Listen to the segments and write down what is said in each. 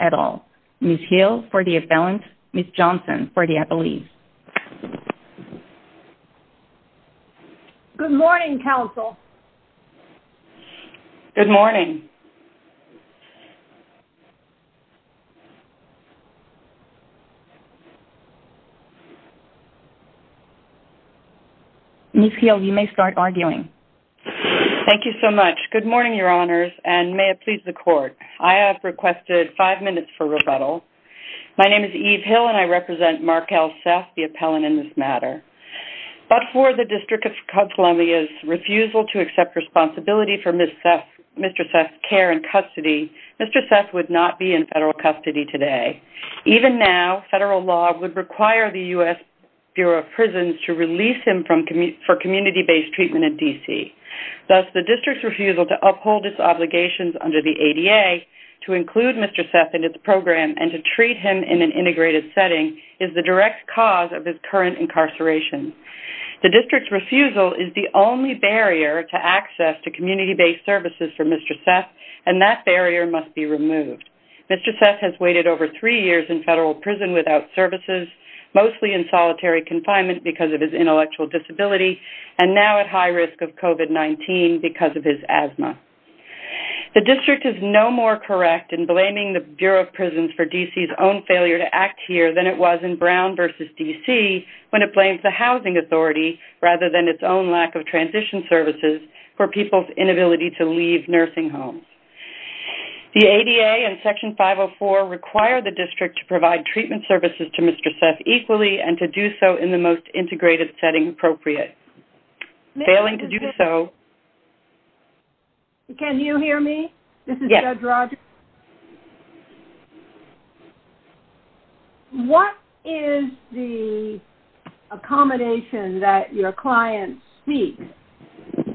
at all. Ms. Hill for the appellant, Ms. Johnson for the appealee. Good morning, counsel. Good morning. Ms. Hill, you may start arguing. Thank you so much. Good morning, your honors, and may it please the court. I have requested five minutes for the appellant in this matter. But for the District of Columbia's refusal to accept responsibility for Mr. Seth's care and custody, Mr. Seth would not be in federal custody today. Even now, federal law would require the U.S. Bureau of Prisons to release him for community-based treatment in D.C. Thus, the District's refusal to uphold its obligations under the ADA, to include Mr. Seth in its program, and to treat him in an integrated setting is the direct cause of his current incarceration. The District's refusal is the only barrier to access to community-based services for Mr. Seth, and that barrier must be removed. Mr. Seth has waited over three years in federal prison without services, mostly in solitary confinement because of his intellectual disability, and now at high risk of COVID-19 because of his asthma. The District is no more correct in blaming the Bureau of Prisons for D.C.'s own failure to act here than it was in Brown v. D.C. when it blamed the Housing Authority, rather than its own lack of transition services, for people's inability to leave nursing homes. The ADA and Section 504 require the District to provide treatment services to Mr. Seth equally and to do so in the most integrated setting appropriate. Failing to do so... Can you hear me? Yes. This is Judge Rogers. What is the accommodation that your client seeks,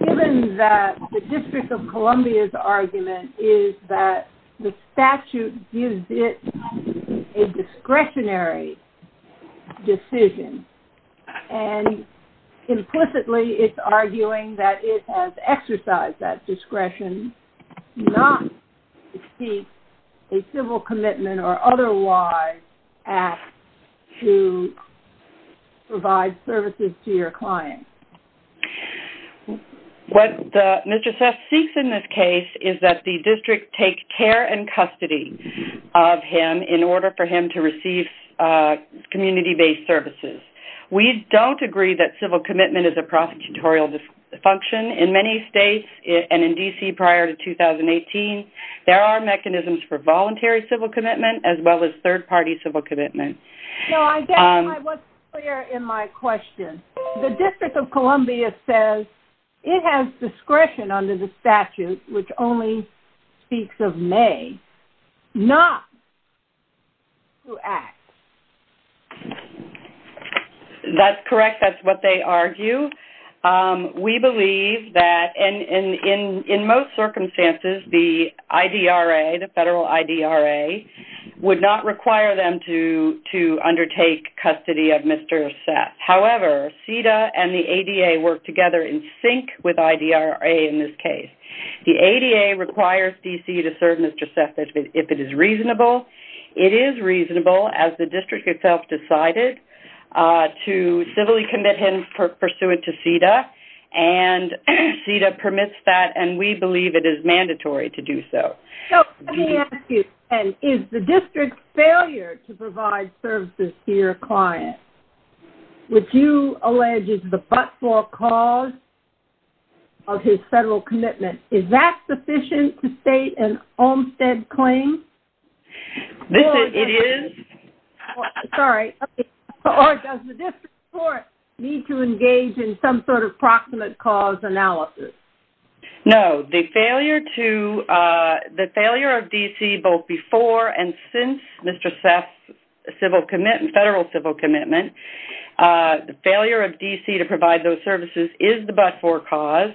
given that the District of Columbia's argument is that the statute gives it a discretionary decision, and implicitly it's arguing that it has to provide services to your client? What Mr. Seth seeks in this case is that the District take care and custody of him in order for him to receive community-based services. We don't agree that civil commitment is a prosecutorial function. In many states, and in D.C. prior to 2018, there are mechanisms for voluntary civil commitment, as well as third-party civil commitment. I guess I wasn't clear in my question. The District of Columbia says it has discretion under the statute, which only speaks of may, not to act. That's correct. That's what they argue. We believe that, and in most circumstances, the IDRA, the federal IDRA, would not require them to undertake custody of Mr. Seth. However, CEDA and the ADA work together in sync with IDRA in this case. The ADA requires D.C. to serve Mr. Seth. It is reasonable, as the District itself decided, to civilly commit him pursuant to CEDA. CEDA permits that, and we believe it is mandatory to do so. Is the District's failure to provide services to your client, which you allege is the but-for cause of his federal commitment, is that sufficient to state an Olmstead claim? It is. Sorry. Or does the District Court need to engage in some sort of proximate cause analysis? No. The failure of D.C. both before and since Mr. Seth's federal civil commitment, the failure of D.C. to provide those services is the but-for cause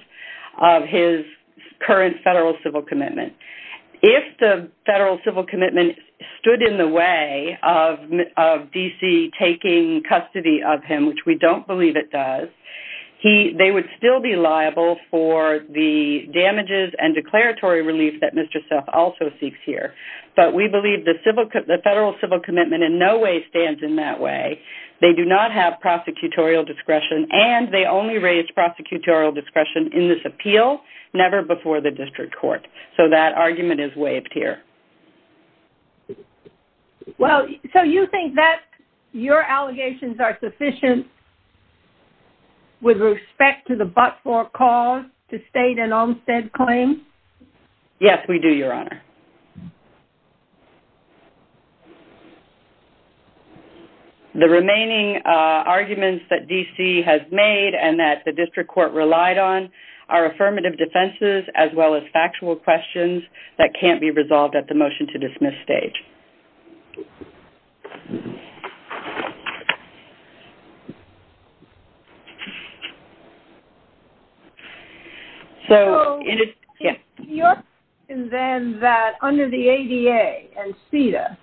of his current federal civil commitment. If the federal civil commitment stood in the way of D.C. taking custody of him, which we don't believe it does, they would still be liable for the damages and declaratory relief that Mr. Seth also seeks here. But we believe the federal civil commitment in no way stands in that way. They do not have prosecutorial discretion, and they only raise prosecutorial discretion in this appeal, never before the District Court. So that argument is waived here. Well, so you think that your allegations are sufficient with respect to the but-for cause to state an Olmstead claim? Yes, we do, Your Honor. The remaining arguments that D.C. has made and that the District Court relied on are affirmative defenses as well as factual questions that can't be resolved at the motion-to-dismiss stage. So, your question then that under the ADA and CEDA,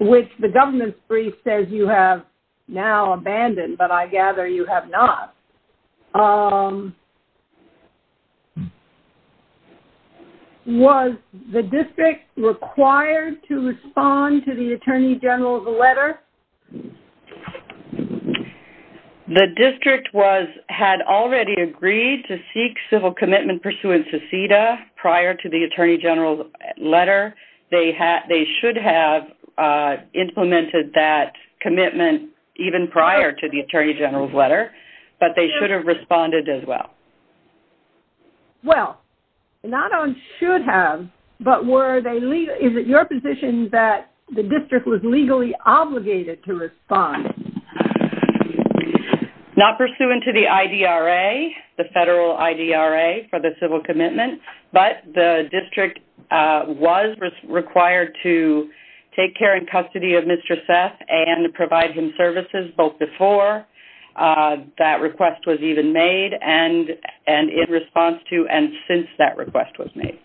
which the government's brief says you have now abandoned, but I gather you have not, was the District required to respond to the Attorney General's letter? The District had already agreed to seek civil commitment pursuant to CEDA prior to the Attorney General's letter. They should have implemented that commitment even prior to the Attorney General's letter, but they should have responded as well. Well, not on should have, but were they—is it your position that the District was legally obligated to respond? Not pursuant to the IDRA, the federal IDRA, for the civil commitment, but the District was required to take care and custody of Mr. Seth and provide him services both before that request was even made and in response to and since that request was made.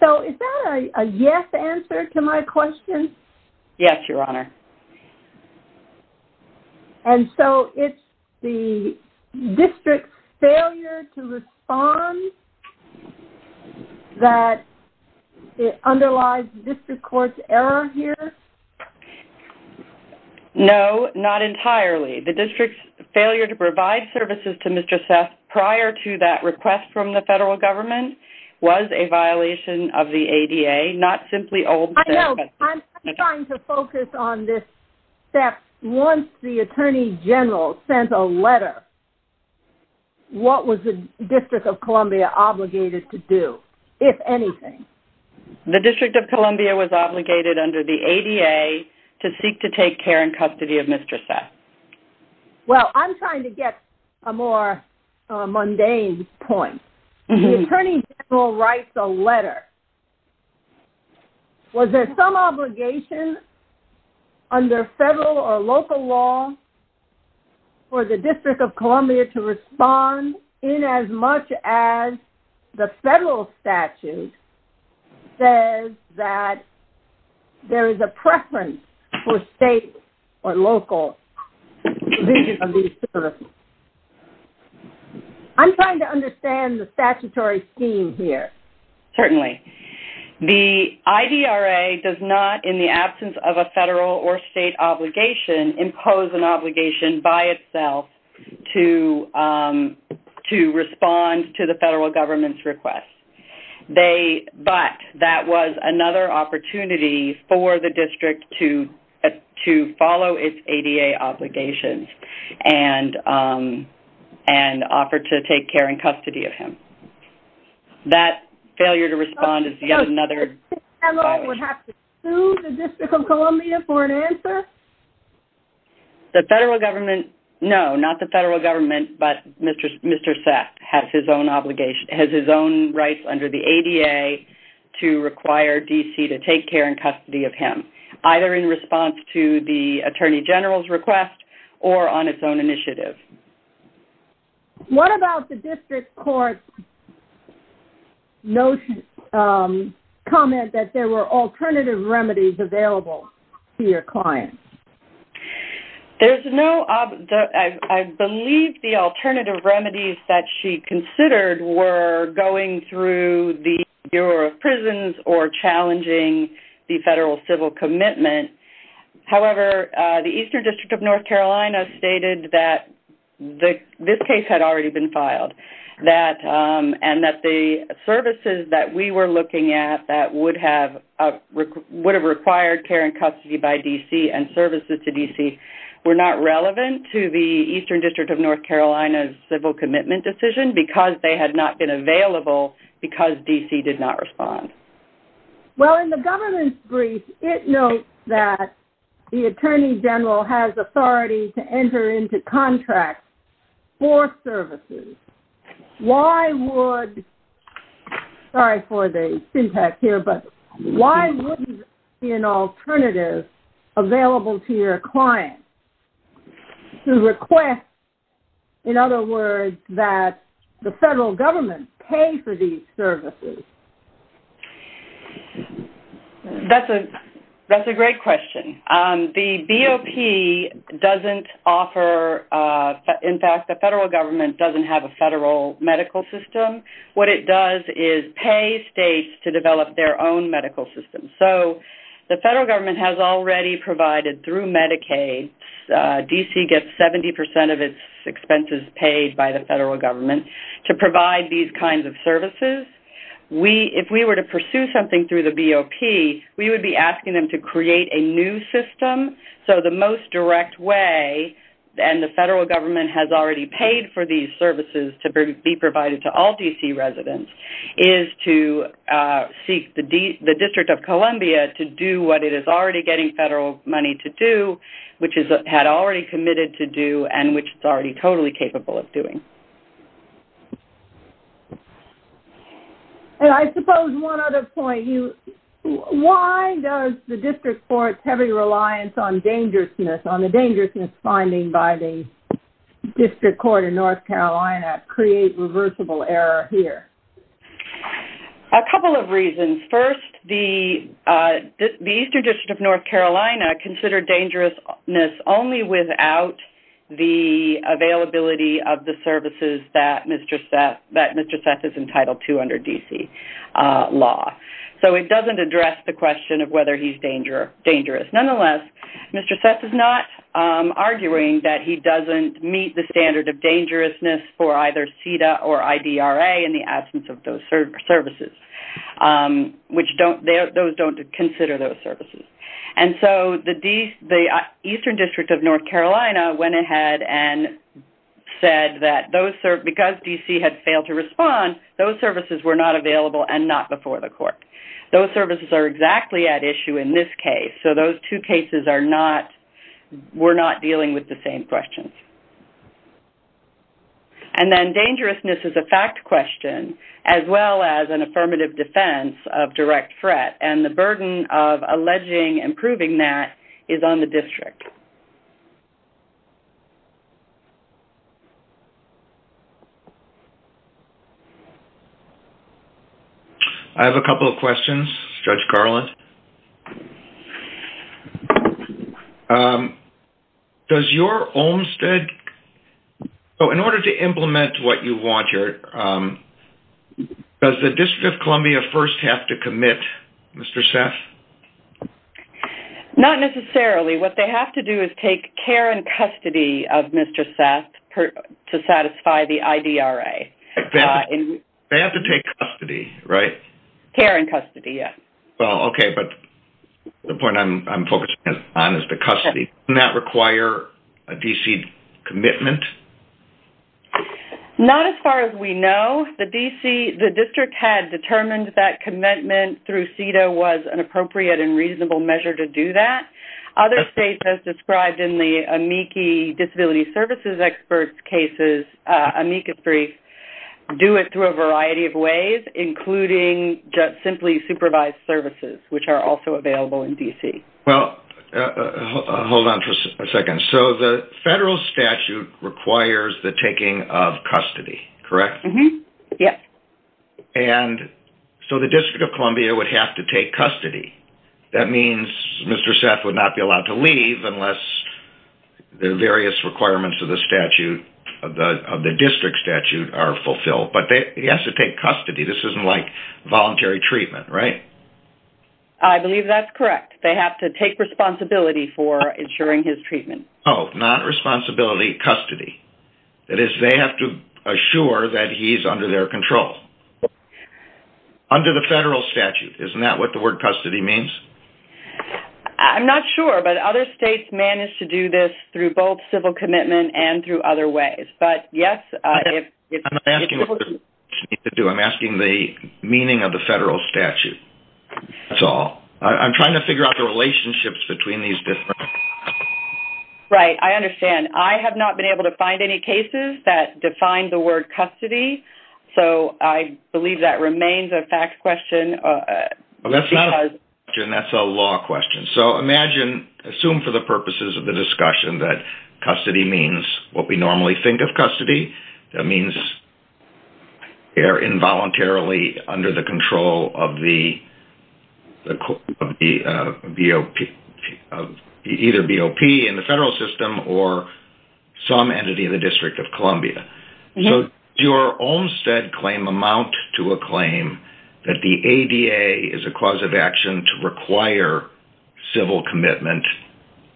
So, is that a yes answer to my question? Yes, Your Honor. And so, it's the District's failure to respond that it underlies the District Court's error here? No, not entirely. The District's failure to provide services to Mr. Seth prior to that request from the federal government was a violation of the ADA, not simply old— I'm trying to focus on this step. Once the Attorney General sent a letter, what was the District of Columbia obligated to do, if anything? The District of Columbia was obligated under the ADA to seek to take care and custody of Mr. Seth. Well, I'm trying to get a more mundane point. The Attorney General writes a letter. Was there some obligation under federal or local law for the District of Columbia to respond in as much as the federal statute says that there is a preference for state or local provision of these services? I'm trying to understand the statutory scheme here. Certainly. The IDRA does not, in the absence of a federal or state obligation, impose an obligation by itself to respond to the federal government's request. But that was another opportunity for the District to follow its ADA obligations and offer to take care and custody of him. That failure to respond is yet another— So, the federal government would have to sue the District of Columbia for an answer? The federal government—no, not the federal government, but Mr. Seth has his own obligation, has his own rights under the ADA to require D.C. to take care and custody of him, either in response to the Attorney General's request or on its own initiative. What about the District Court's comment that there were alternative remedies available to your client? There's no—I believe the alternative remedies that she considered were going through the Bureau of Prisons or challenging the federal civil commitment. However, the Eastern District of North Carolina stated that this case had already been filed and that the services that we were looking at that would have required care and custody by D.C. and services to D.C. were not relevant to the Eastern District of North Carolina's civil commitment decision because they were not relevant to the federal government's request. Well, in the government's brief, it notes that the Attorney General has authority to enter into contracts for services. Why would—sorry for the syntax here, but why wouldn't there be an alternative available to your client to request, in other words, that the federal government pay for these services? That's a great question. The BOP doesn't offer—in fact, the federal government doesn't have a federal medical system. What it does is pay states to develop their own medical system. The federal government has already provided through Medicaid—D.C. gets 70 percent of its government—to provide these kinds of services. If we were to pursue something through the BOP, we would be asking them to create a new system. So the most direct way—and the federal government has already paid for these services to be provided to all D.C. residents—is to seek the District of Columbia to do what it is already getting federal money to do, which it had already committed to do and which it's already totally capable of doing. And I suppose one other point. Why does the District Court's heavy reliance on dangerousness, on the dangerousness finding by the District Court in North Carolina, create reversible error here? A couple of reasons. First, the Eastern District of North Carolina considered dangerousness only without the availability of the services that Mr. Seth is entitled to under D.C. law. So it doesn't address the question of whether he's dangerous. Nonetheless, Mr. Seth is not arguing that he doesn't meet the standard of dangerousness for either CEDA or IDRA in the absence of those services, which those don't consider those services. And so the Eastern District of North Carolina went ahead and said that because D.C. had failed to respond, those services were not available and not before the court. Those services are exactly at issue in this case. So those two cases were not dealing with the same questions. And then dangerousness is a fact question as well as an affirmative defense of direct threat. And the burden of that is the same. I have a couple of questions, Judge Carlin. Does your Olmstead... So in order to implement what you want here, does the District of Columbia first have to commit, Mr. Seth? Not necessarily. What they have to do is take care and custody of Mr. Seth to satisfy the IDRA. They have to take custody, right? Care and custody, yes. Well, okay. But the point I'm focusing on is the custody. Doesn't that require a D.C. commitment? Not as far as we know. The D.C., the District had determined that commitment through CEDA was an appropriate and reasonable measure to do that. Other states have described in the amici disability services expert cases, amicus brief, do it through a variety of ways, including just simply supervised services, which are also available in D.C. Well, hold on for a second. So the federal statute requires the taking of custody, correct? Yes. And so the District of Columbia would have to take custody. That means Mr. Seth would not be allowed to leave unless the various requirements of the statute, of the District statute are fulfilled. But he has to take custody. This isn't like voluntary treatment, right? I believe that's correct. They have to take responsibility for ensuring his treatment. Oh, not responsibility, custody. That is, they have to assure that he's under their control. Under the federal statute. Isn't that what the word custody means? I'm not sure, but other states manage to do this through both civil commitment and through other ways. But yes, if... I'm not asking what the states need to do, I'm asking the meaning of the federal statute. That's all. I'm trying to figure out the relationships between these different... Right. I understand. I have not been able to find any cases that define the word custody. So I believe that remains a fact question. That's not a question, that's a law question. So imagine, assume for the purposes of the discussion that custody means what we normally think of custody. That means they're involuntarily under the control of the BOP, either BOP in the federal system or some entity in the District of Columbia. So your Olmstead claim amount to a claim that the ADA is a cause of action to require civil commitment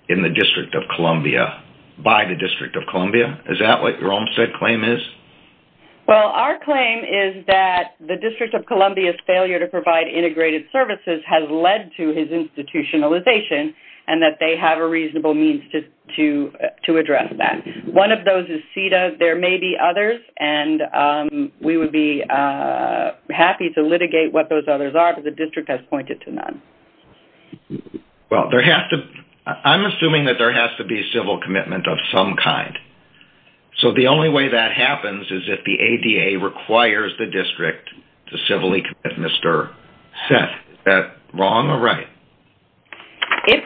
in the District of Columbia by the District of Columbia. Is that what your Olmstead claim is? Well, our claim is that the District of Columbia's failure to provide integrated services has led to his institutionalization and that they have a reasonable means to address that. One of those is CETA. There may be others and we would be happy to litigate what those others are, but the District has pointed to none. Well, there has to... I'm assuming that there has to be civil commitment of some kind. So the only way that happens is if the ADA requires the District to civilly commit Mr. Seth. Is that wrong or right? If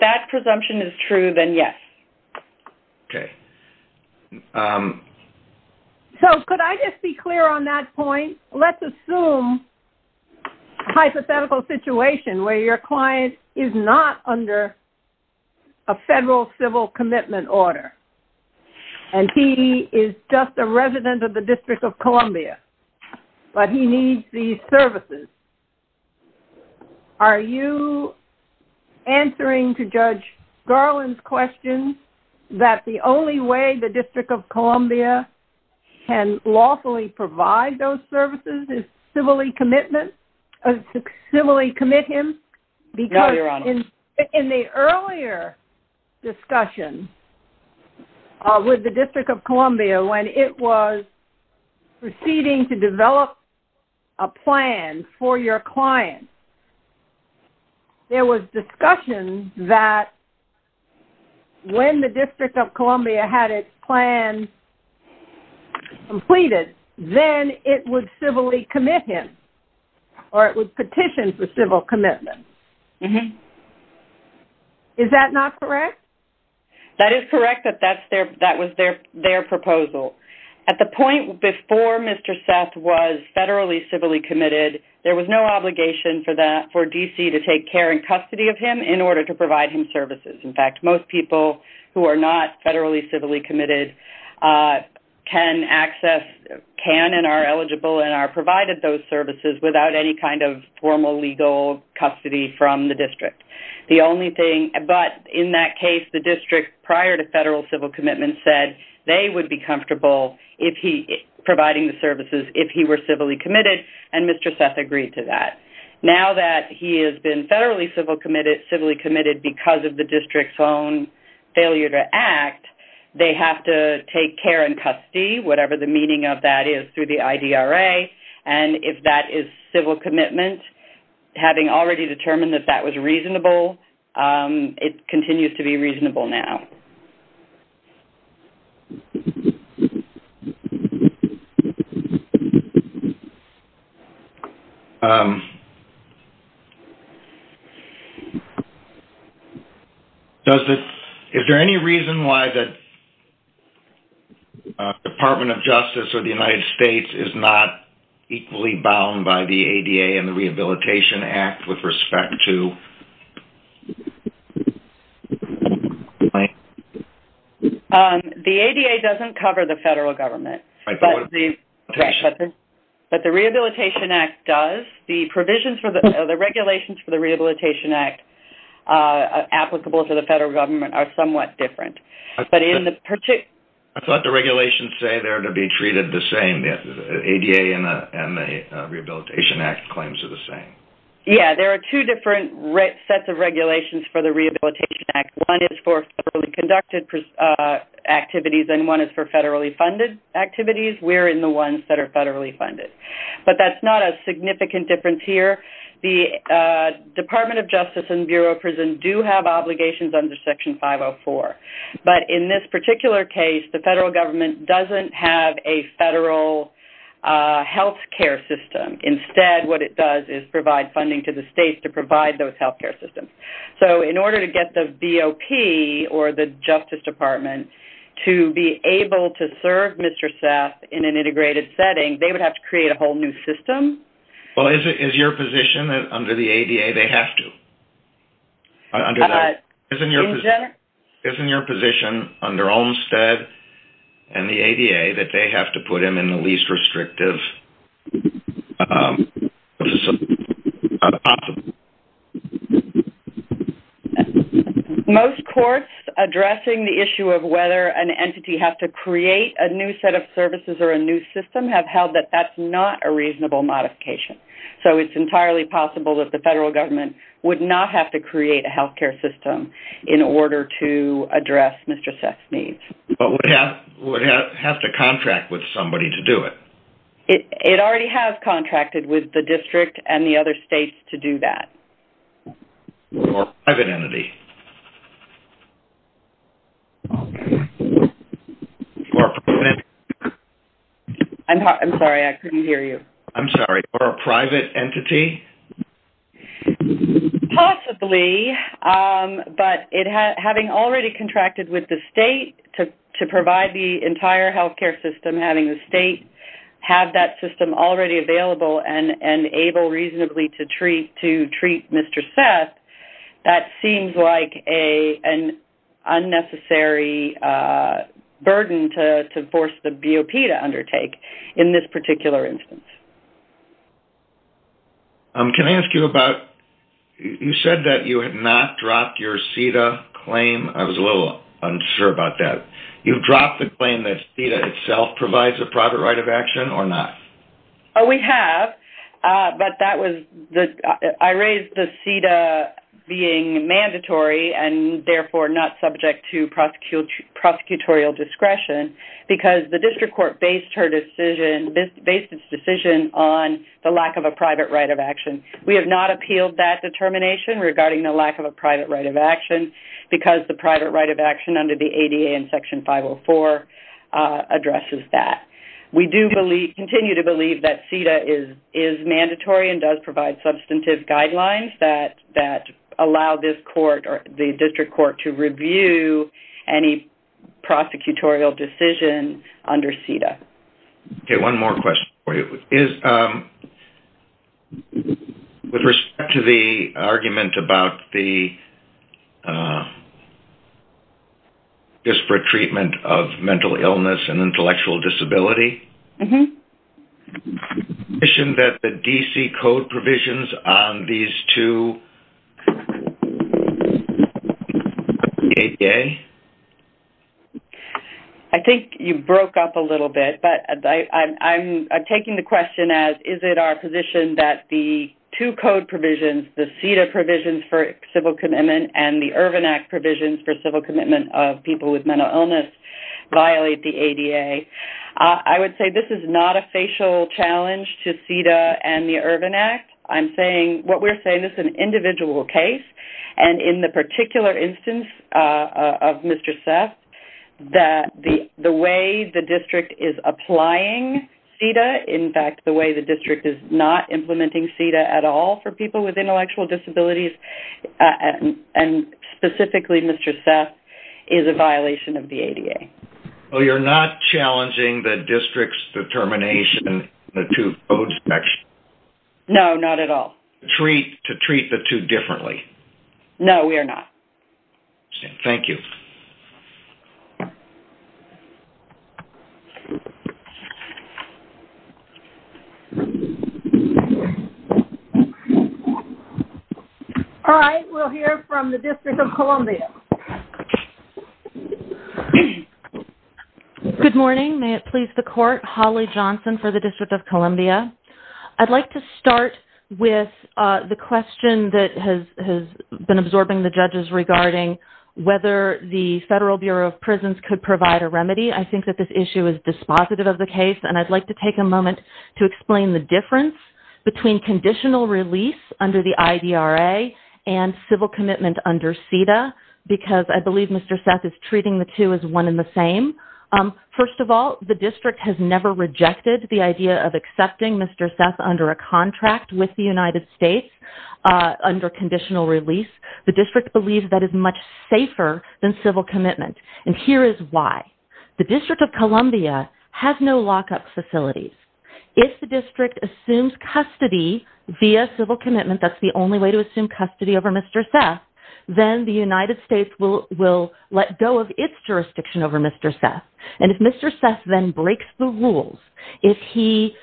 that presumption is true, then yes. Okay. So could I just be clear on that point? Let's assume a hypothetical situation where your client is not under a federal civil commitment order and he is just a resident of the District of Columbia. But he needs these services. Are you answering to Judge Garland's question that the only way the District of Columbia can lawfully provide those services is civilly commit him? No, Your Honor. Because in the earlier discussion with the District of Columbia, when it was proceeding to develop a plan for your client, there was discussion that when the District of Columbia had its plan completed, then it would civilly commit him or it would petition for civil commitment. Mm-hmm. Is that not correct? That is correct that that was their proposal. At the point before Mr. Seth was federally civilly committed, there was no obligation for DC to take care and custody of him in order to provide him services. In fact, most people who are not federally civilly committed can and are eligible and are provided those services without any kind of formal legal custody from the District. But in that case, the District, prior to federal civil commitment, said they would be comfortable providing the services if he were civilly committed, and Mr. Seth agreed to that. Now that he has been federally civilly committed because of the District's own failure to act, they have to take care and custody, whatever the meaning of that is, through the IDRA. And if that is civil commitment, having already determined that that was reasonable, it continues to be reasonable now. Is there any reason why the Department of Justice or the United States is not equally bound by the ADA and the Rehabilitation Act with respect to the federal government? The ADA doesn't cover the federal government, but the Rehabilitation Act does. The regulations for the Rehabilitation Act applicable to the federal government are somewhat different. I thought the regulations say they're to be treated the same. The ADA and the Rehabilitation Act claims are the same. Yeah, there are two different sets of regulations for the Rehabilitation Act. One is for federally conducted activities and one is for federally funded activities. We're in the ones that are federally funded. But that's not a significant difference here. The Department of Justice and Bureau of Prison do have obligations under Section 504, but in this particular case, the federal government doesn't have a federal healthcare system. Instead, what it does is provide funding to the states to provide those healthcare systems. So, in order to get the BOP or the Justice Department to be able to serve Mr. Seth in an integrated setting, they would have to create a whole new system. Well, is it your position that under the ADA, they have to? Is it your position under Olmstead and the ADA that they have to put him in the least restrictive facility possible? Most courts addressing the issue of whether an entity has to create a new set of services or a new system have held that that's not a reasonable modification. So, it's entirely possible that the federal government would not have to create a healthcare system in order to address Mr. Seth's needs. But would it have to contract with somebody to do it? It already has contracted with the district and the other states to do that. Or a private entity? I'm sorry. I couldn't hear you. I'm sorry. Or a private entity? Possibly, but having already contracted with the state to provide the entire healthcare system, having the state have that system already available and able reasonably to treat Mr. Seth, that seems like an unnecessary burden to force the BOP to undertake in this particular instance. Can I ask you about, you said that you had not dropped your CETA claim. I was a little unsure about that. You've dropped the claim that CETA itself provides a private right of action or not? We have, but I raised the CETA being mandatory and therefore not subject to prosecutorial discretion because the district court based its decision on the lack of a private right of action. We have not appealed that determination regarding the lack of a private right of action because the private right of action under the ADA and Section 504 addresses that. We do continue to believe that CETA is mandatory and does provide substantive guidelines that allow this court or the district court to review any prosecutorial decision under CETA. One more question for you. With respect to the argument about the treatment of mental illness and intellectual disability, is it our position that the DC code provisions on these two ADA? I think you broke up a little bit, but I'm taking the question as, is it our position that the two code provisions, the CETA provisions for civil commitment and the Ervin Act provisions for commitment of people with mental illness violate the ADA? I would say this is not a facial challenge to CETA and the Ervin Act. I'm saying what we're saying is an individual case and in the particular instance of Mr. Seth, that the way the district is applying CETA, in fact, the way the district is not implementing CETA at all for people with intellectual disabilities and specifically Mr. Seth is a violation of the ADA. So you're not challenging the district's determination in the two code sections? No, not at all. To treat the two differently? No, we are not. Thank you. All right, we'll hear from the District of Columbia. Good morning. May it please the court, Holly Johnson for the District of Columbia. I'd like to start with the question that has been absorbing the judges regarding whether the Federal Bureau of Prisons could provide a remedy. I think that this issue is dispositive of the case and I'd like to take a moment to explain the difference between conditional release under the IDRA and civil commitment under CETA because I believe Mr. Seth is treating the two as one and the same. First of all, the district has never rejected the idea of accepting Mr. Seth under a contract with the United States under conditional release. The district believes that is much safer than civil commitment and here is why. The District of Columbia has no lockup facilities. If the district assumes custody via civil commitment, that's the only way to assume custody over Mr. Seth, then the United States will let go of its jurisdiction over Mr. Seth and if Mr. Seth then breaks the rules, if he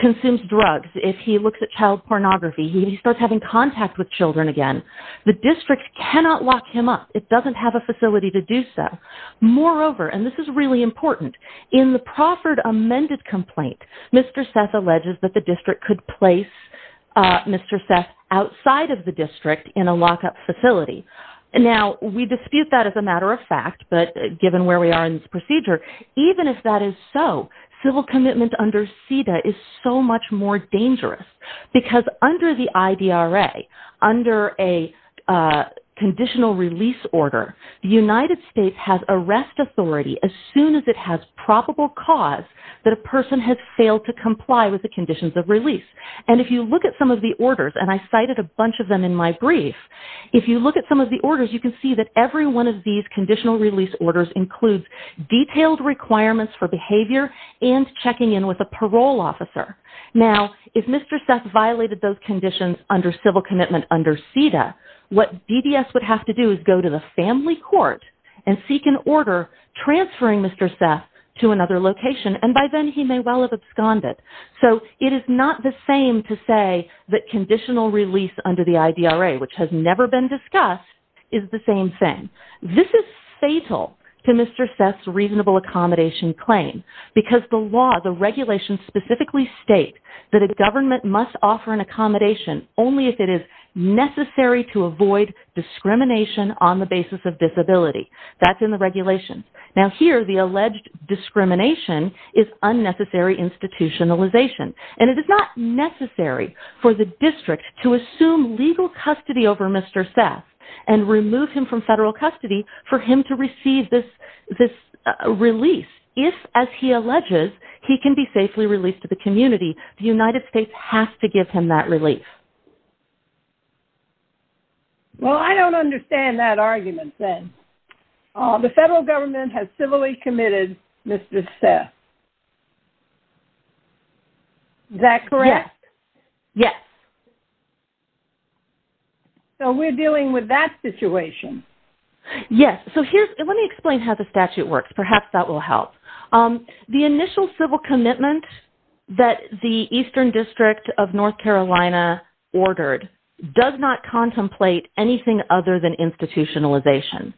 consumes drugs, if he looks at child pornography, if he starts having contact with children again, the district cannot lock him up. It doesn't have a facility to do so. Moreover, and this is really important, in the proffered amended complaint, Mr. Seth alleges that the district could place Mr. Seth outside of the district in a lockup facility. Now, we dispute that as a matter of fact but given where we are in this procedure, even if that is so, civil commitment under CETA is so much more dangerous because under the IDRA, under a conditional release order, the United States has arrest authority as soon as it has probable cause that a person has failed to comply with the conditions of release and if you look at some of the orders and I cited a bunch of them in my brief, if you look at some of the orders, you can see that every one of these conditional release orders includes detailed requirements for behavior and checking in with parole officer. Now, if Mr. Seth violated those conditions under civil commitment under CETA, what DDS would have to do is go to the family court and seek an order transferring Mr. Seth to another location and by then, he may well have absconded. So, it is not the same to say that conditional release under the IDRA which has never been discussed is the same thing. This is fatal to Mr. Seth's reasonable accommodation claim because the law, the regulations specifically state that a government must offer an accommodation only if it is necessary to avoid discrimination on the basis of disability. That's in the regulations. Now, here, the alleged discrimination is unnecessary institutionalization and it is not necessary for the district to assume legal custody over Mr. Seth and remove him from federal custody for him to receive this release. If, as he alleges, he can be safely released to the community, the United States has to give him that relief. Well, I don't understand that argument then. The federal government has civilly committed Mr. Seth. Is that correct? Yes. Yes. Okay. So, we're dealing with that situation. Yes. So, let me explain how the statute works. Perhaps that will help. The initial civil commitment that the Eastern District of North Carolina ordered does not contemplate anything other than institutionalization.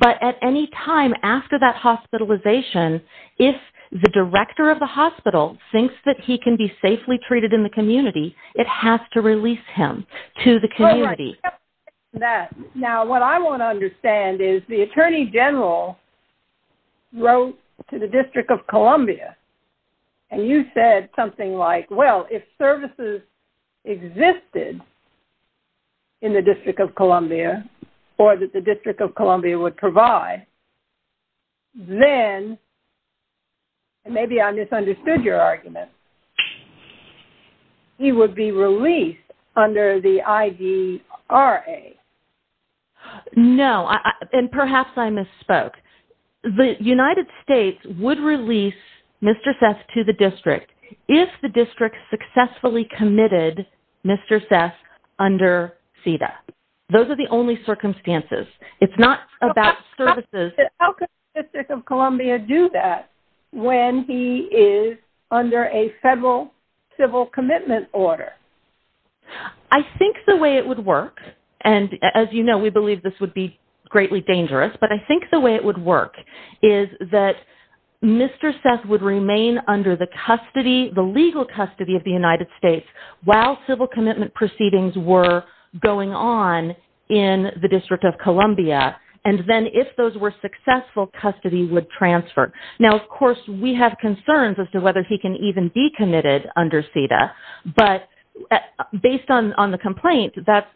But at any time after that hospitalization, if the director of the hospital thinks that he can be safely treated in the to the community. Now, what I want to understand is the Attorney General wrote to the District of Columbia and you said something like, well, if services existed in the District of Columbia or that the District of Columbia would provide, then, and maybe I misunderstood your argument, he would be released under the IDRA. No. And perhaps I misspoke. The United States would release Mr. Seth to the District if the District successfully committed Mr. Seth under CEDA. Those are the only circumstances. It's not about services. How could the District of Columbia do that when he is under a federal civil commitment order? I think the way it would work, and as you know, we believe this would be greatly dangerous, but I think the way it would work is that Mr. Seth would remain under the custody, the legal custody of the United States while civil commitment proceedings were going on in the District of Columbia, and then if those were successful, custody would transfer. Now, of course, we have concerns as to whether he can even be committed under CEDA, but based on the complaint, that's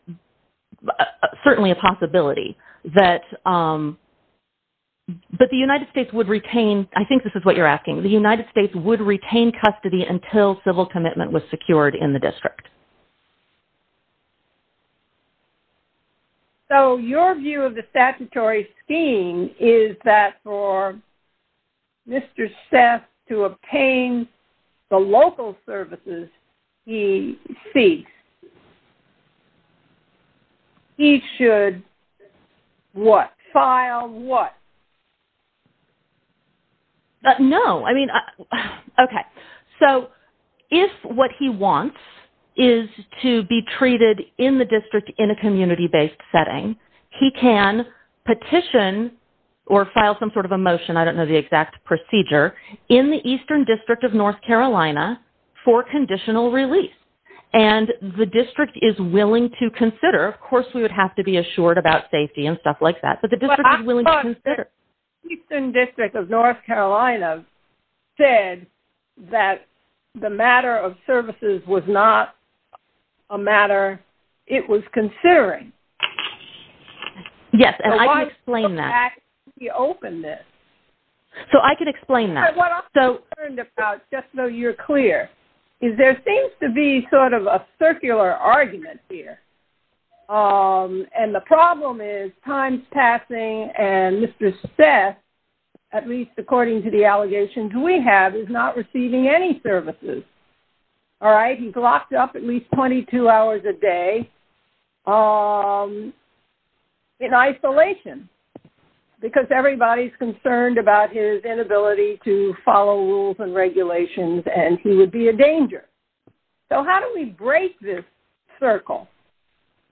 certainly a possibility that, but the United States would retain, I think this is what you're asking, the United States would retain custody until civil commitment was secured in the District. So your view of the statutory scheme is that for Mr. Seth to obtain the local services he seeks, he should what? File what? No. I mean, okay. So if what he wants is to be treated in the district in a community-based setting, he can petition or file some sort of a motion, I don't know the exact procedure, in the Eastern District of North Carolina for conditional release, and the district is willing to consider, of course, we would have to be assured about safety and stuff like that, but the district is willing to consider. But I thought the Eastern District of North Carolina said that the matter of services was not a matter it was considering. Yes, and I can explain that. So why look back at the openness? So I can explain that. But what I'm concerned about, just so you're clear, is there seems to be sort of a circular argument here. And the problem is, time's passing, and Mr. Seth, at least according to the allegations we have, is not receiving any services. All right? He's locked up at least 22 hours a day in isolation because everybody's concerned about his inability to follow rules and regulations, and he would be a danger. So how do we break this circle?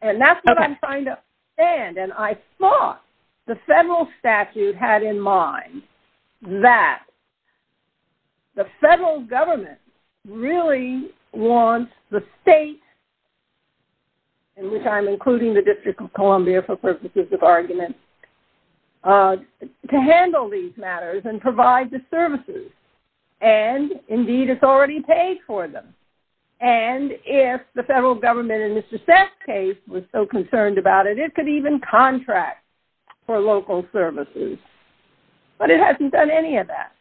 And that's what I'm trying to understand. And I thought the federal statute had in mind that the federal government really wants the state, in which I'm including the District of Columbia for purposes of argument, to handle these matters and provide the services. And indeed, it's already paid for them. And if the federal government, in Mr. Seth's case, was so concerned about it, it could even contract for local services. But it hasn't done any of that.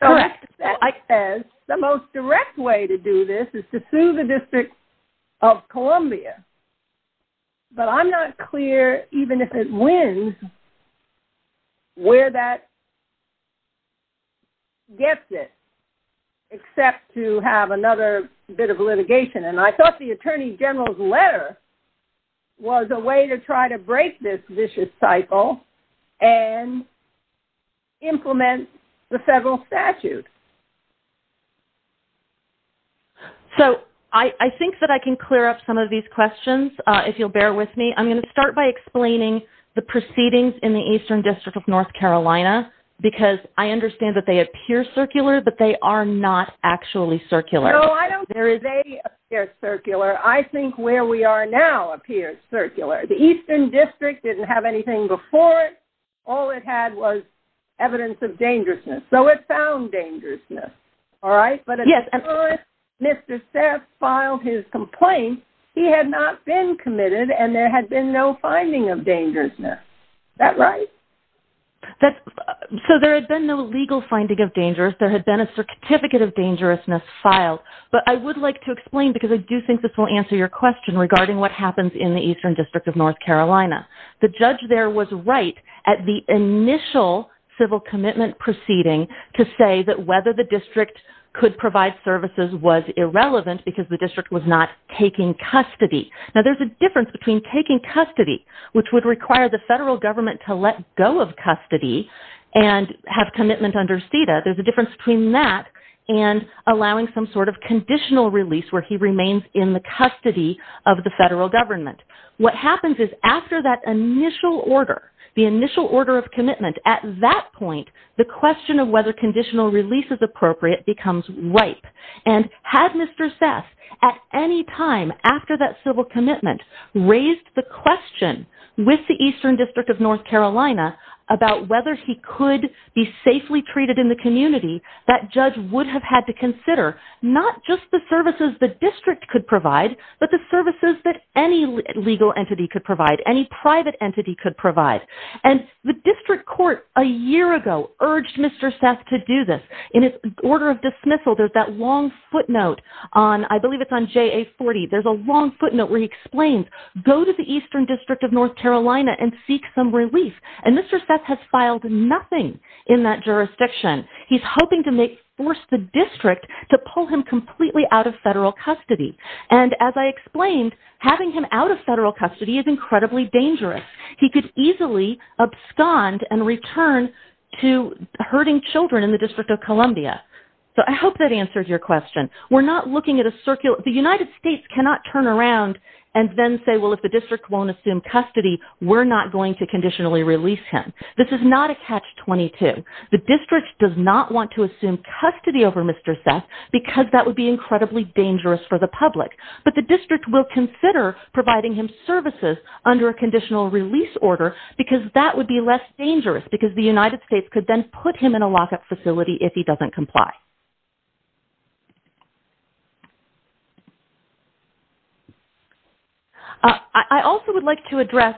So as I said, the most direct way to do this is to sue the District of Columbia. But I'm not clear, even if it wins, where that gets it, except to have another bit of litigation. And I thought the Attorney General's letter was a way to try to break this vicious cycle and implement the federal statute. So I think that I can clear up some of these questions, if you'll bear with me. I'm going to start by explaining the proceedings in the Eastern District of North Carolina, because I understand that they appear circular, but they are not actually circular. No, I don't think they appear circular. I think where we are now appears circular. The Eastern District didn't have anything before it. All it had was evidence of dangerousness. So it found dangerousness, all right? But as soon as Mr. Seth filed his complaint, he had not been committed, and there had been no finding of dangerousness. Is that right? So there had been no legal finding of dangerousness. There had been a certificate of dangerousness filed. But I would like to explain, because I do think this will answer your question regarding what happens in the Eastern District of North Carolina. The judge there was right at the initial civil commitment proceeding to say that whether the district could provide services was irrelevant because the district was not taking custody. Now, there's a difference between taking custody, which would require the federal government to let go of custody and have commitment under CEDA. There's a difference between that and allowing some sort of conditional release where he remains in the custody of the initial order, the initial order of commitment. At that point, the question of whether conditional release is appropriate becomes ripe. And had Mr. Seth at any time after that civil commitment raised the question with the Eastern District of North Carolina about whether he could be safely treated in the community, that judge would have had to consider not just the services the district could provide, but the services that any legal entity could provide, any private entity could provide. And the district court a year ago urged Mr. Seth to do this. In its order of dismissal, there's that long footnote on, I believe it's on JA-40. There's a long footnote where he explains, go to the Eastern District of North Carolina and seek some relief. And Mr. Seth has filed nothing in that jurisdiction. He's hoping to make, force the district to pull him completely out of federal custody. And as I explained, having him out of federal custody is incredibly dangerous. He could easily abscond and return to hurting children in the District of Columbia. So I hope that answers your question. We're not looking at a circular, the United States cannot turn around and then say, well, if the district won't assume custody, we're not going to conditionally release him. This is not a catch-22. The district does not want to assume custody over Mr. Seth because that would be incredibly dangerous for the public. But the district will consider providing him services under a conditional release order because that would be less dangerous because the United States could then put him in a lockup facility if he doesn't comply. I also would like to address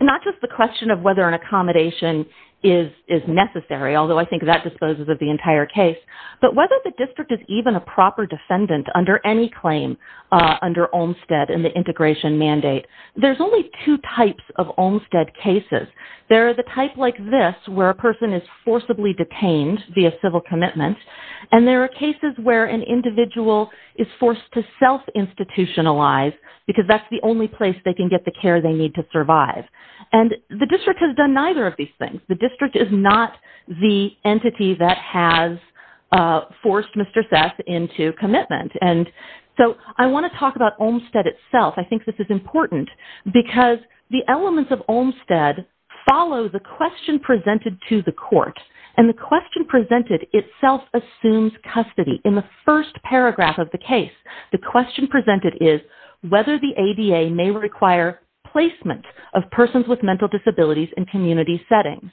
not just the question of whether an accommodation is necessary, although I think that disposes of the entire case, but whether the district is even a proper defendant under any claim under Olmstead and the integration mandate. There's only two types of Olmstead cases. There are the type like this where a person is forcibly detained via civil commitments. And there are cases where an individual is forced to self-institutionalize because that's the only place they can get the care they need to survive. And the district has done neither of these things. The district is not the entity that has forced Mr. Seth into commitment. And so I want to talk about Olmstead itself. I think this is important because the elements of Olmstead follow the question presented to the court. And the question presented itself assumes custody. In the first paragraph of the case, the question presented is whether the ADA may require placement of persons with mental disabilities in community settings.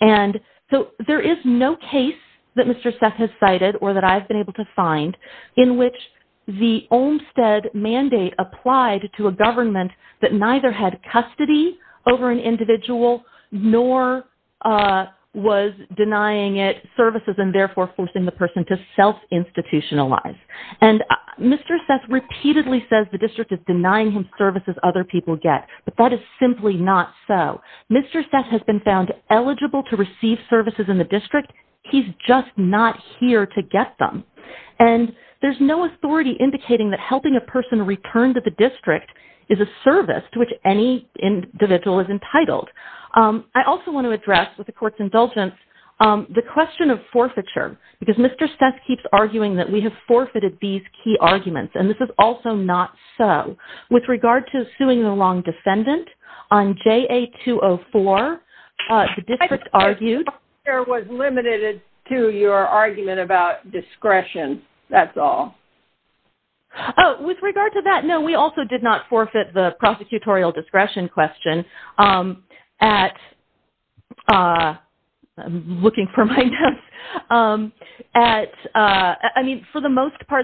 And so there is no case that Mr. Seth has cited or that I've been able to find in which the Olmstead mandate applied to a government that neither had custody over an individual nor was denying it services and therefore forcing the person to self-institutionalize. And Mr. Seth repeatedly says the district is denying him services other people get, but that is simply not so. Mr. Seth has been found eligible to receive services in the district. He's just not here to get them. And there's no authority indicating that helping a person return to the district is a service to which any individual is entitled. I also want to address with the court's indulgence the question of forfeiture because Mr. Seth keeps arguing that we have forfeited these key arguments. And this is also not so. With regard to suing the long defendant on JA-204, the district argued- I think your question was limited to your argument about discretion. That's all. Oh, with regard to that, no, we also did not forfeit the prosecutorial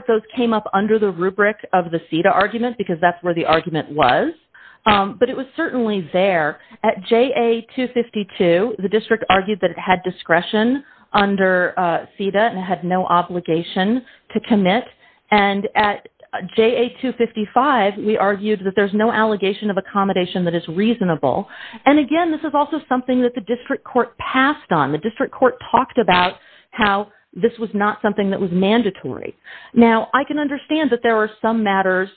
those came up under the rubric of the CEDA argument because that's where the argument was. But it was certainly there. At JA-252, the district argued that it had discretion under CEDA and had no obligation to commit. And at JA-255, we argued that there's no allegation of accommodation that is reasonable. And again, this is also something that the district passed on. The district court talked about how this was not something that was mandatory. Now, I can understand that there are some matters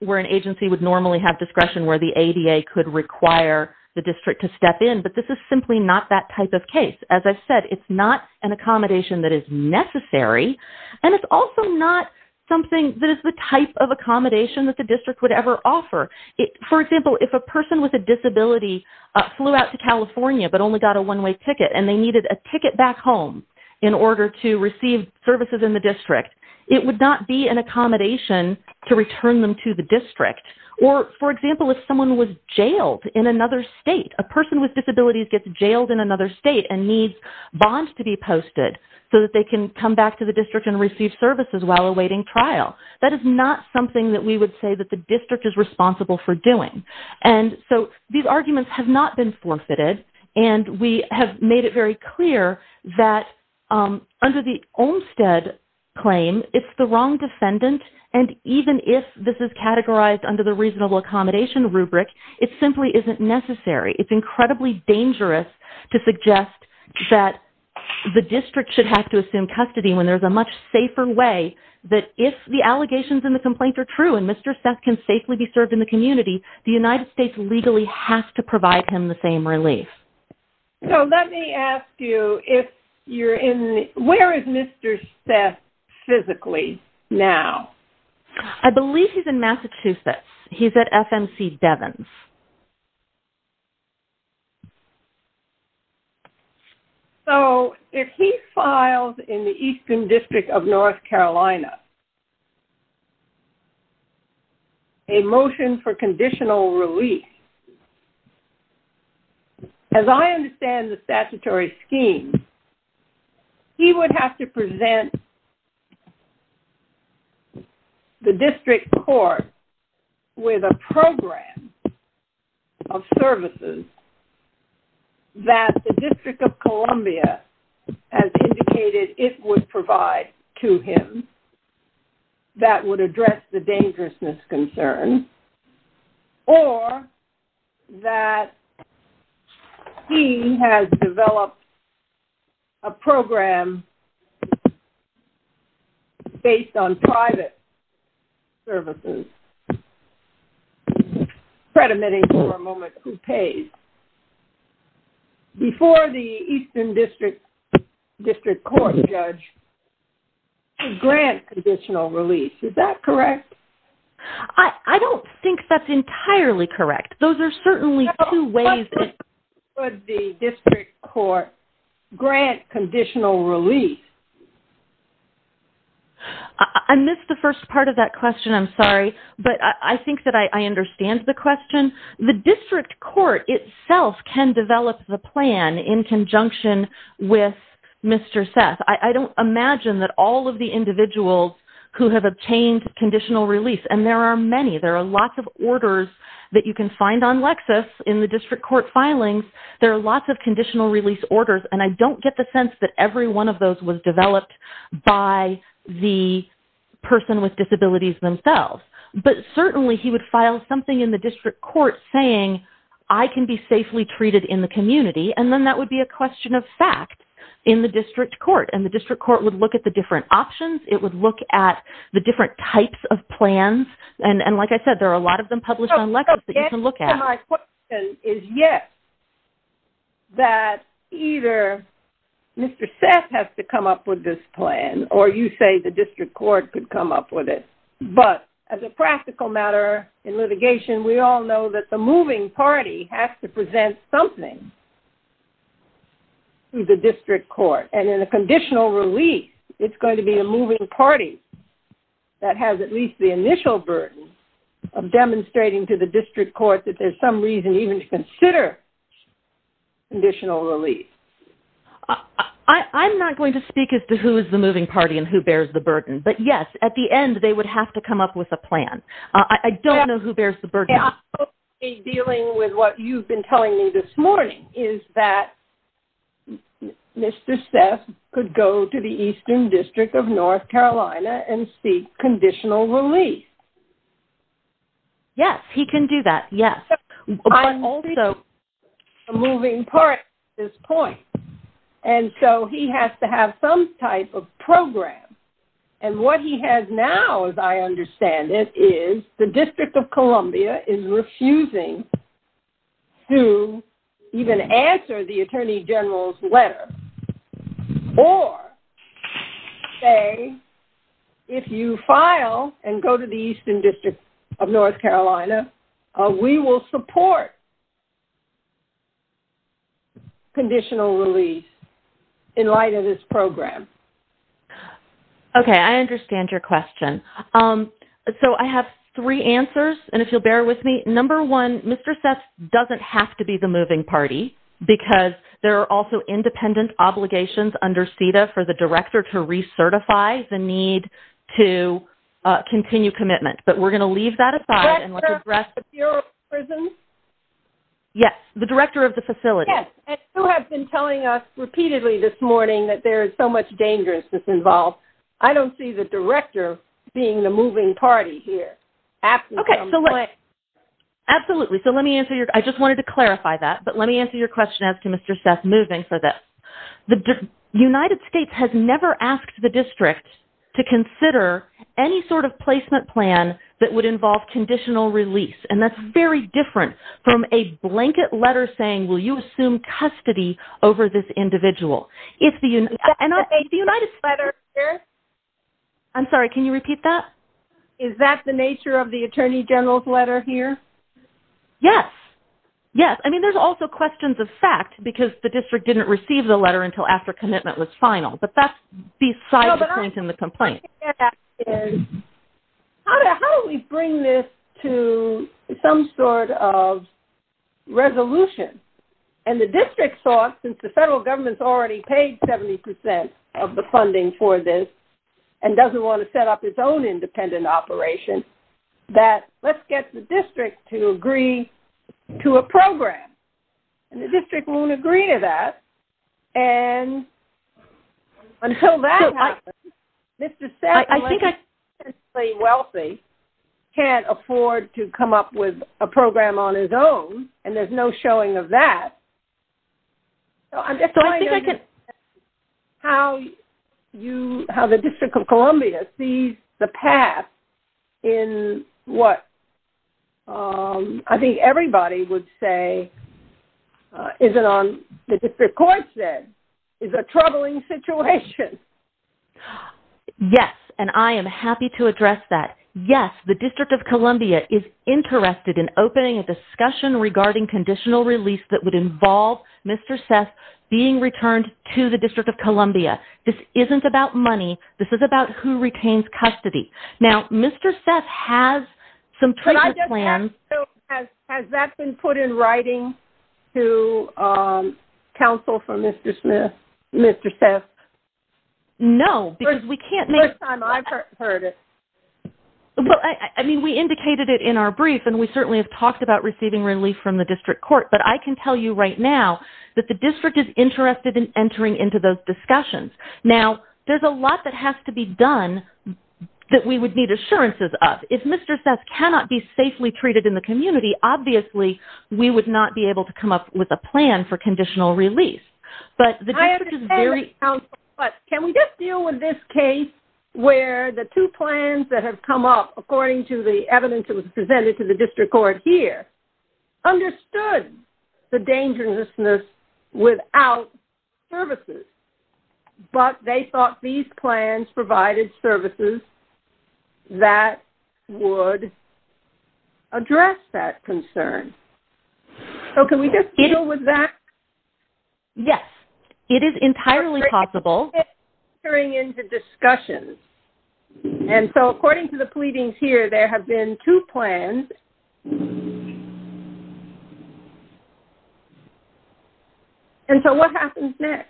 where an agency would normally have discretion where the ADA could require the district to step in, but this is simply not that type of case. As I've said, it's not an accommodation that is necessary. And it's also not something that is the type of accommodation that the district would ever offer. For example, if a person with a disability flew out to California but only got a one-way ticket and they needed a ticket back home in order to receive services in the district, it would not be an accommodation to return them to the district. Or for example, if someone was jailed in another state, a person with disabilities gets jailed in another state and needs bonds to be posted so that they can come back to the district and receive services while awaiting trial. That is not something that we would say that the district is responsible for doing. And so these arguments have not been forfeited. And we have made it very clear that under the Olmstead claim, it's the wrong defendant. And even if this is categorized under the reasonable accommodation rubric, it simply isn't necessary. It's incredibly dangerous to suggest that the district should have to assume custody when there's a much safer way that if the allegations and the complaints are true and Mr. Seth can safely be served in the community, the United States legally has to provide him the same relief. So let me ask you, where is Mr. Seth physically now? I believe he's in Massachusetts. He's at FMC Devins. So if he files in the Eastern District of North Carolina a motion for conditional release, as I understand the statutory scheme, he would have to present to the district court with a program of services that the District of Columbia has indicated it would provide to him that would address the dangerousness concern or that he has developed a program based on private services. Fred admitting for a moment who pays. Before the Eastern District District Court judge grant conditional release. Is that correct? I don't think that's entirely correct. Those are certainly two ways. Would the district court grant conditional release? I missed the first part of that question. I'm sorry. But I think that I understand the question. The district court itself can develop the plan in conjunction with Mr. Seth. I don't imagine that all of the individuals who have obtained conditional release, and there are many, there are lots of orders that you can find on Lexis in the district court filings. There are lots of conditional release orders. And I don't get the sense that every one of those was developed by the person with disabilities themselves. But certainly he would file something in the district court saying, I can be safely treated in the community. And then that would be a question of fact in the district court. And the district court would look at the different options. It would look at the different types of plans. And like I said, there are a lot of them published on Lexis that you can look at. My question is yes, that either Mr. Seth has to come up with this plan or you say the district court could come up with it. But as a practical matter in litigation, we all know that the moving party has to present something to the district court. And in a conditional release, it's going to be a moving party that has at least the initial burden of demonstrating to the district court that there's some reason even to consider conditional release. I'm not going to speak as to who is the moving party and who bears the burden. But yes, at the end, they would have to come up with a plan. I don't know who bears the burden. I'm dealing with what you've been telling me this morning is that Mr. Seth could go to the Eastern District of North Carolina and seek conditional release. Yes, he can do that. Yes. I'm only a moving party at this point. And so he has to have some type of program. And what he has now, as I understand it, is the District of Columbia is refusing to even answer the Attorney General's letter or say, if you file and go to the Eastern District of North Carolina, we will support conditional release in light of this program. Okay, I understand your question. So I have three answers. And if you'll bear with me, number one, Mr. Seth doesn't have to be the moving party, because there are also independent obligations under CEDA for the director to recertify the need to continue commitment. But we're going to leave that aside and let's address the Bureau of Prisons. Yes, the director of the facility. Yes, and who have been telling us repeatedly this morning that there is so much dangerousness involved. I don't see the director being the moving party here. Absolutely. So let me answer your, I just wanted to clarify that. But let me answer your question as to Mr. Seth moving for this. The United States has never asked the district to consider any sort of placement plan that would involve conditional release. And that's very different from a blanket letter saying, will you assume custody over this individual? Is that the nature of the Attorney General's letter here? Yes. Yes. I mean, there's also questions of fact, because the district didn't receive the letter until after commitment was final. But that's beside the point in the complaint. How do we bring this to some sort of resolution? And the district thought, since the federal government's already paid 70% of the funding for this, and doesn't want to set up its own independent operation, that let's get the district to agree to a program. And the district won't agree to that. And until that happens, Mr. Seth, a wealthy, can't afford to I'm just trying to understand how you, how the District of Columbia sees the path in what, I think everybody would say, isn't on, the district court said, is a troubling situation. Yes. And I am happy to address that. Yes, the District of Columbia is interested in opening a being returned to the District of Columbia. This isn't about money. This is about who retains custody. Now, Mr. Seth has some plans. Has that been put in writing to counsel for Mr. Smith, Mr. Seth? No, because we can't make time. I've heard it. Well, I mean, we indicated it in our brief, and we certainly have talked about receiving relief from the district court. But I can tell you right now that the district is interested in entering into those discussions. Now, there's a lot that has to be done that we would need assurances of. If Mr. Seth cannot be safely treated in the community, obviously, we would not be able to come up with a plan for conditional release. But the district is very I understand, but can we just deal with this case where the two plans that have come up, according to the evidence that was presented to the district court here, understood the dangerousness without services, but they thought these plans provided services that would address that concern. So can we just deal with that? Yes, it is entirely possible. Entering into discussions. And so according to the pleadings here, there have been two plans. And so what happens next?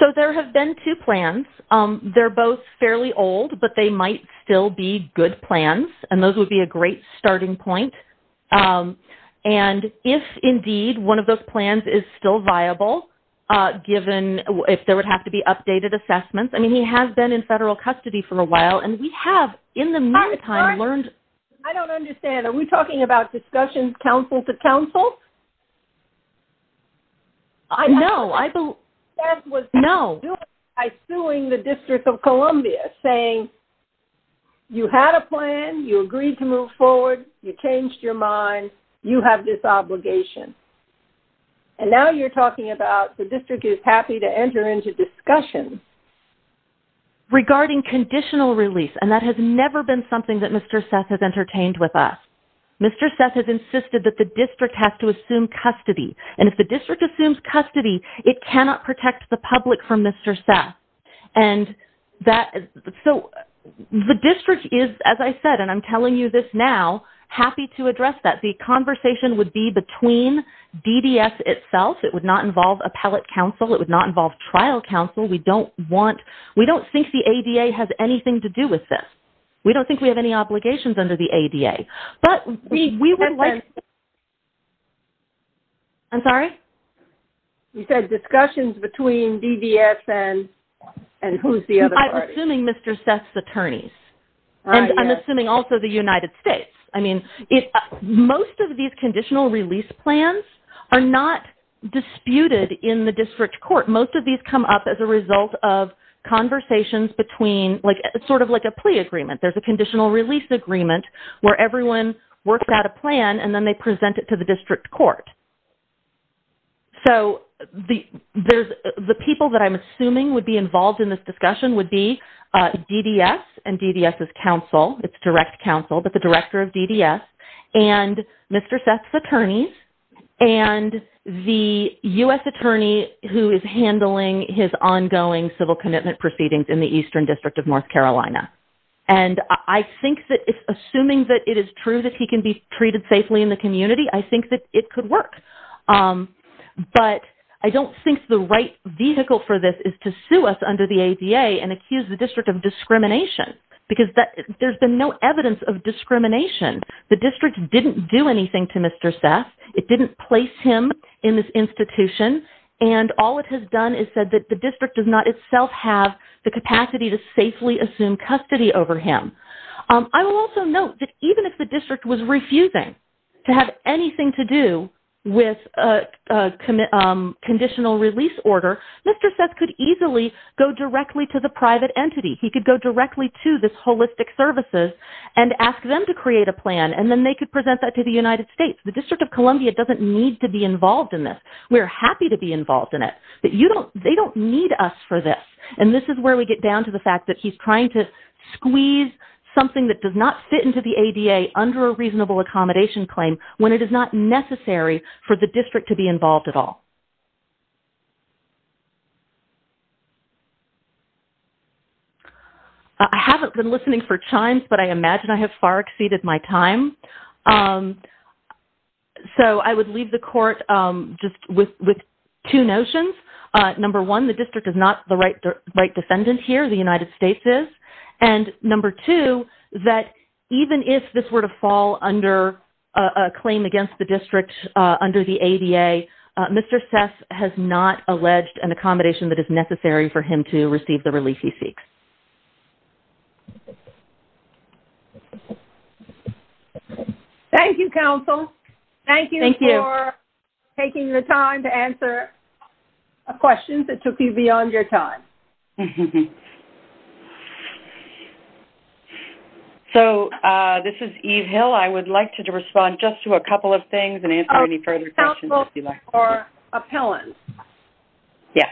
So there have been two plans. They're both fairly old, but they might still be good plans. And those would be a great starting point. And if indeed one of those plans is still viable, given if there would have to be updated assessments. I mean, he has been in federal custody for a while, and we have in the meantime learned. I don't understand. Are we talking about discussion council to council? I know. I know. I suing the District of Columbia saying you had a plan, you agreed to move forward, you changed your mind, you have this obligation. And now you're talking about the district is happy to enter into discussion. Regarding conditional release, and that has never been something that Mr. Seth has entertained with us. Mr. Seth has insisted that the district has to assume custody. And if the district assumes custody, it cannot protect the public from Mr. Seth. And so the district is, as I said, and I'm telling you this now, happy to address that. The conversation would be between DDS itself. It would not involve appellate counsel. It would not involve trial counsel. We don't want, we don't think the ADA has anything to do with this. We don't think we have any obligations under the ADA. But we would like... I'm sorry? You said discussions between DDS and who's the other party? I'm assuming Mr. Seth's attorneys. And I'm assuming also the United States. I mean, most of these conditional release plans are not disputed in the district court. Most of these come up as a result of conversations between like, sort of like a plea agreement. There's a conditional release agreement where everyone worked out a plan and then they present it to the district court. So the people that I'm assuming would be involved in this discussion would be DDS and DDS's counsel. It's direct counsel, but the director of DDS and Mr. Seth's attorneys and the US attorney who is handling his ongoing civil commitment proceedings in the Eastern District of North Carolina. And I think that it's assuming that it is true that he can be treated safely in the community. I think that it could work. But I don't think the right vehicle for this is to sue us under the ADA and accuse the district of discrimination, because there's been no evidence of discrimination. The district didn't do anything to Mr. Seth. It didn't place him in this institution. And all it has done is said that the district does not itself have the capacity to safely assume custody over him. I will also note that even if the district was could easily go directly to the private entity. He could go directly to this holistic services and ask them to create a plan and then they could present that to the United States. The District of Columbia doesn't need to be involved in this. We're happy to be involved in it, but they don't need us for this. And this is where we get down to the fact that he's trying to squeeze something that does not fit into the ADA under a reasonable accommodation claim when it is necessary for the district to be involved at all. I haven't been listening for chimes, but I imagine I have far exceeded my time. So I would leave the court just with two notions. Number one, the district is not the right defendant here. The United States is. And number two, that even if this were to fall under a claim against the district under the ADA, Mr. Sess has not alleged an accommodation that is necessary for him to receive the relief he seeks. Thank you, counsel. Thank you for taking your time to answer a question that took you beyond your time. Mm-hmm. So this is Eve Hill. I would like to respond just to a couple of things and answer any further questions if you'd like. Oh, counsel, or appellant. Yeah.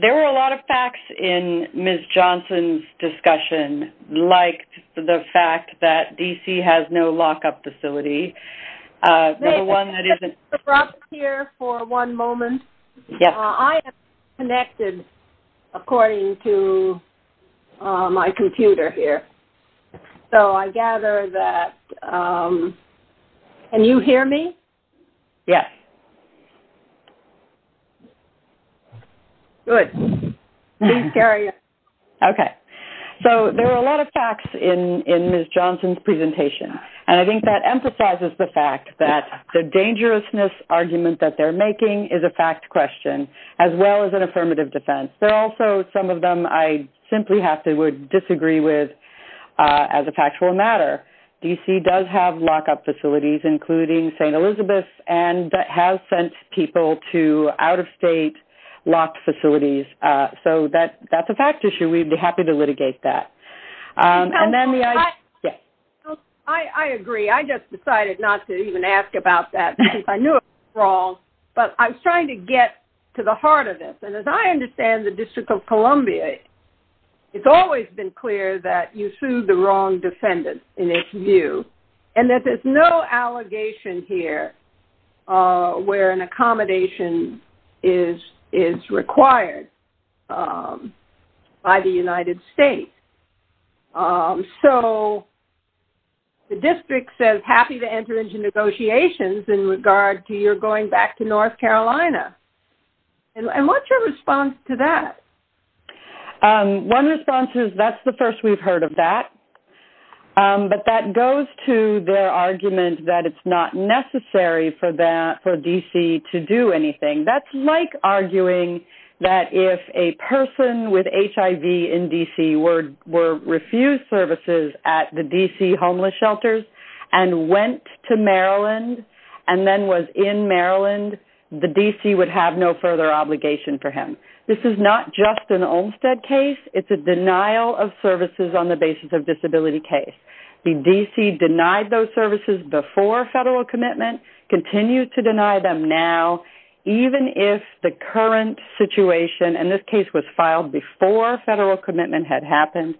There were a lot of facts in Ms. Johnson's discussion, like the fact that D.C. has no connected according to my computer here. So I gather that... Can you hear me? Yes. Good. Please carry on. Okay. So there were a lot of facts in Ms. Johnson's presentation, and I think that emphasizes the fact that the dangerousness argument that they're making is a fact question, as well as an affirmative defense. There are also some of them I simply have to disagree with as a factual matter. D.C. does have lock-up facilities, including St. Elizabeth's, and has sent people to out-of-state locked facilities. So that's a fact issue. We'd be happy to litigate that. And then the... Counsel, I agree. I just decided not to even ask about that because I knew it was wrong, but I'm trying to get to the heart of this. And as I understand the District of Columbia, it's always been clear that you sued the wrong defendant, in its view, and that there's no allegation here where an accommodation is required by the United States. So the district says happy to enter into negotiations in regard to your going back to North Carolina. And what's your response to that? One response is that's the first we've heard of that. But that goes to their argument that it's not necessary for D.C. to do anything. That's like arguing that if a person with HIV in D.C. were refused services at the D.C. homeless shelters and went to Maryland and then was in Maryland, the D.C. would have no further obligation for him. This is not just an Olmstead case. It's a denial of services on the basis of disability case. The D.C. denied those services before federal commitment, continues to deny them now, even if the current situation, and this case was filed before federal commitment had happened,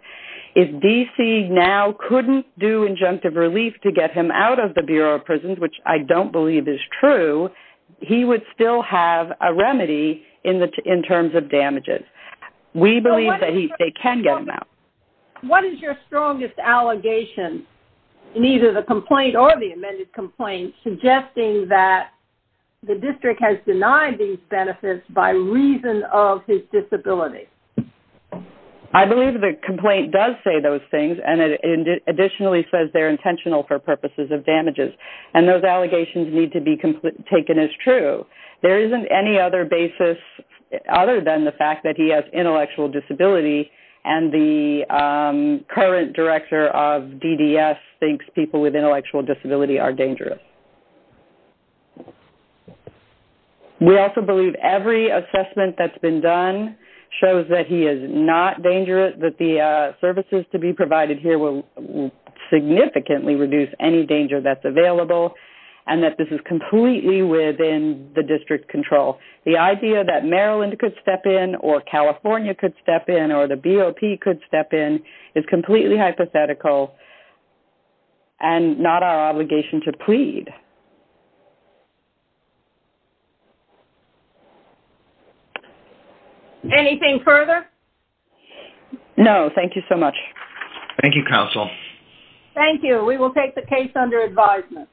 if D.C. now couldn't do injunctive relief to get him out of the Bureau of Prisons, which I don't believe is true, he would still have a remedy in terms of damages. We believe that they can get him out. What is your strongest allegation in either the complaint or the amended complaint suggesting that the district has denied these benefits by reason of his disability? I believe the complaint does say those things, and it additionally says they're intentional for purposes of damages. And those allegations need to be taken as true. There isn't any other basis other than the fact that he has intellectual disability, and the current director of DDS thinks people with intellectual disability are dangerous. We also believe every assessment that's been done shows that he is not dangerous, that the services to be provided here will significantly reduce any danger that's available, and that this is completely within the district control. The idea that Maryland could step in or California could step in or the BOP could step in is completely hypothetical and not our obligation to plead. Anything further? No, thank you so much. Thank you, counsel. Thank you. We will take the case under advisement.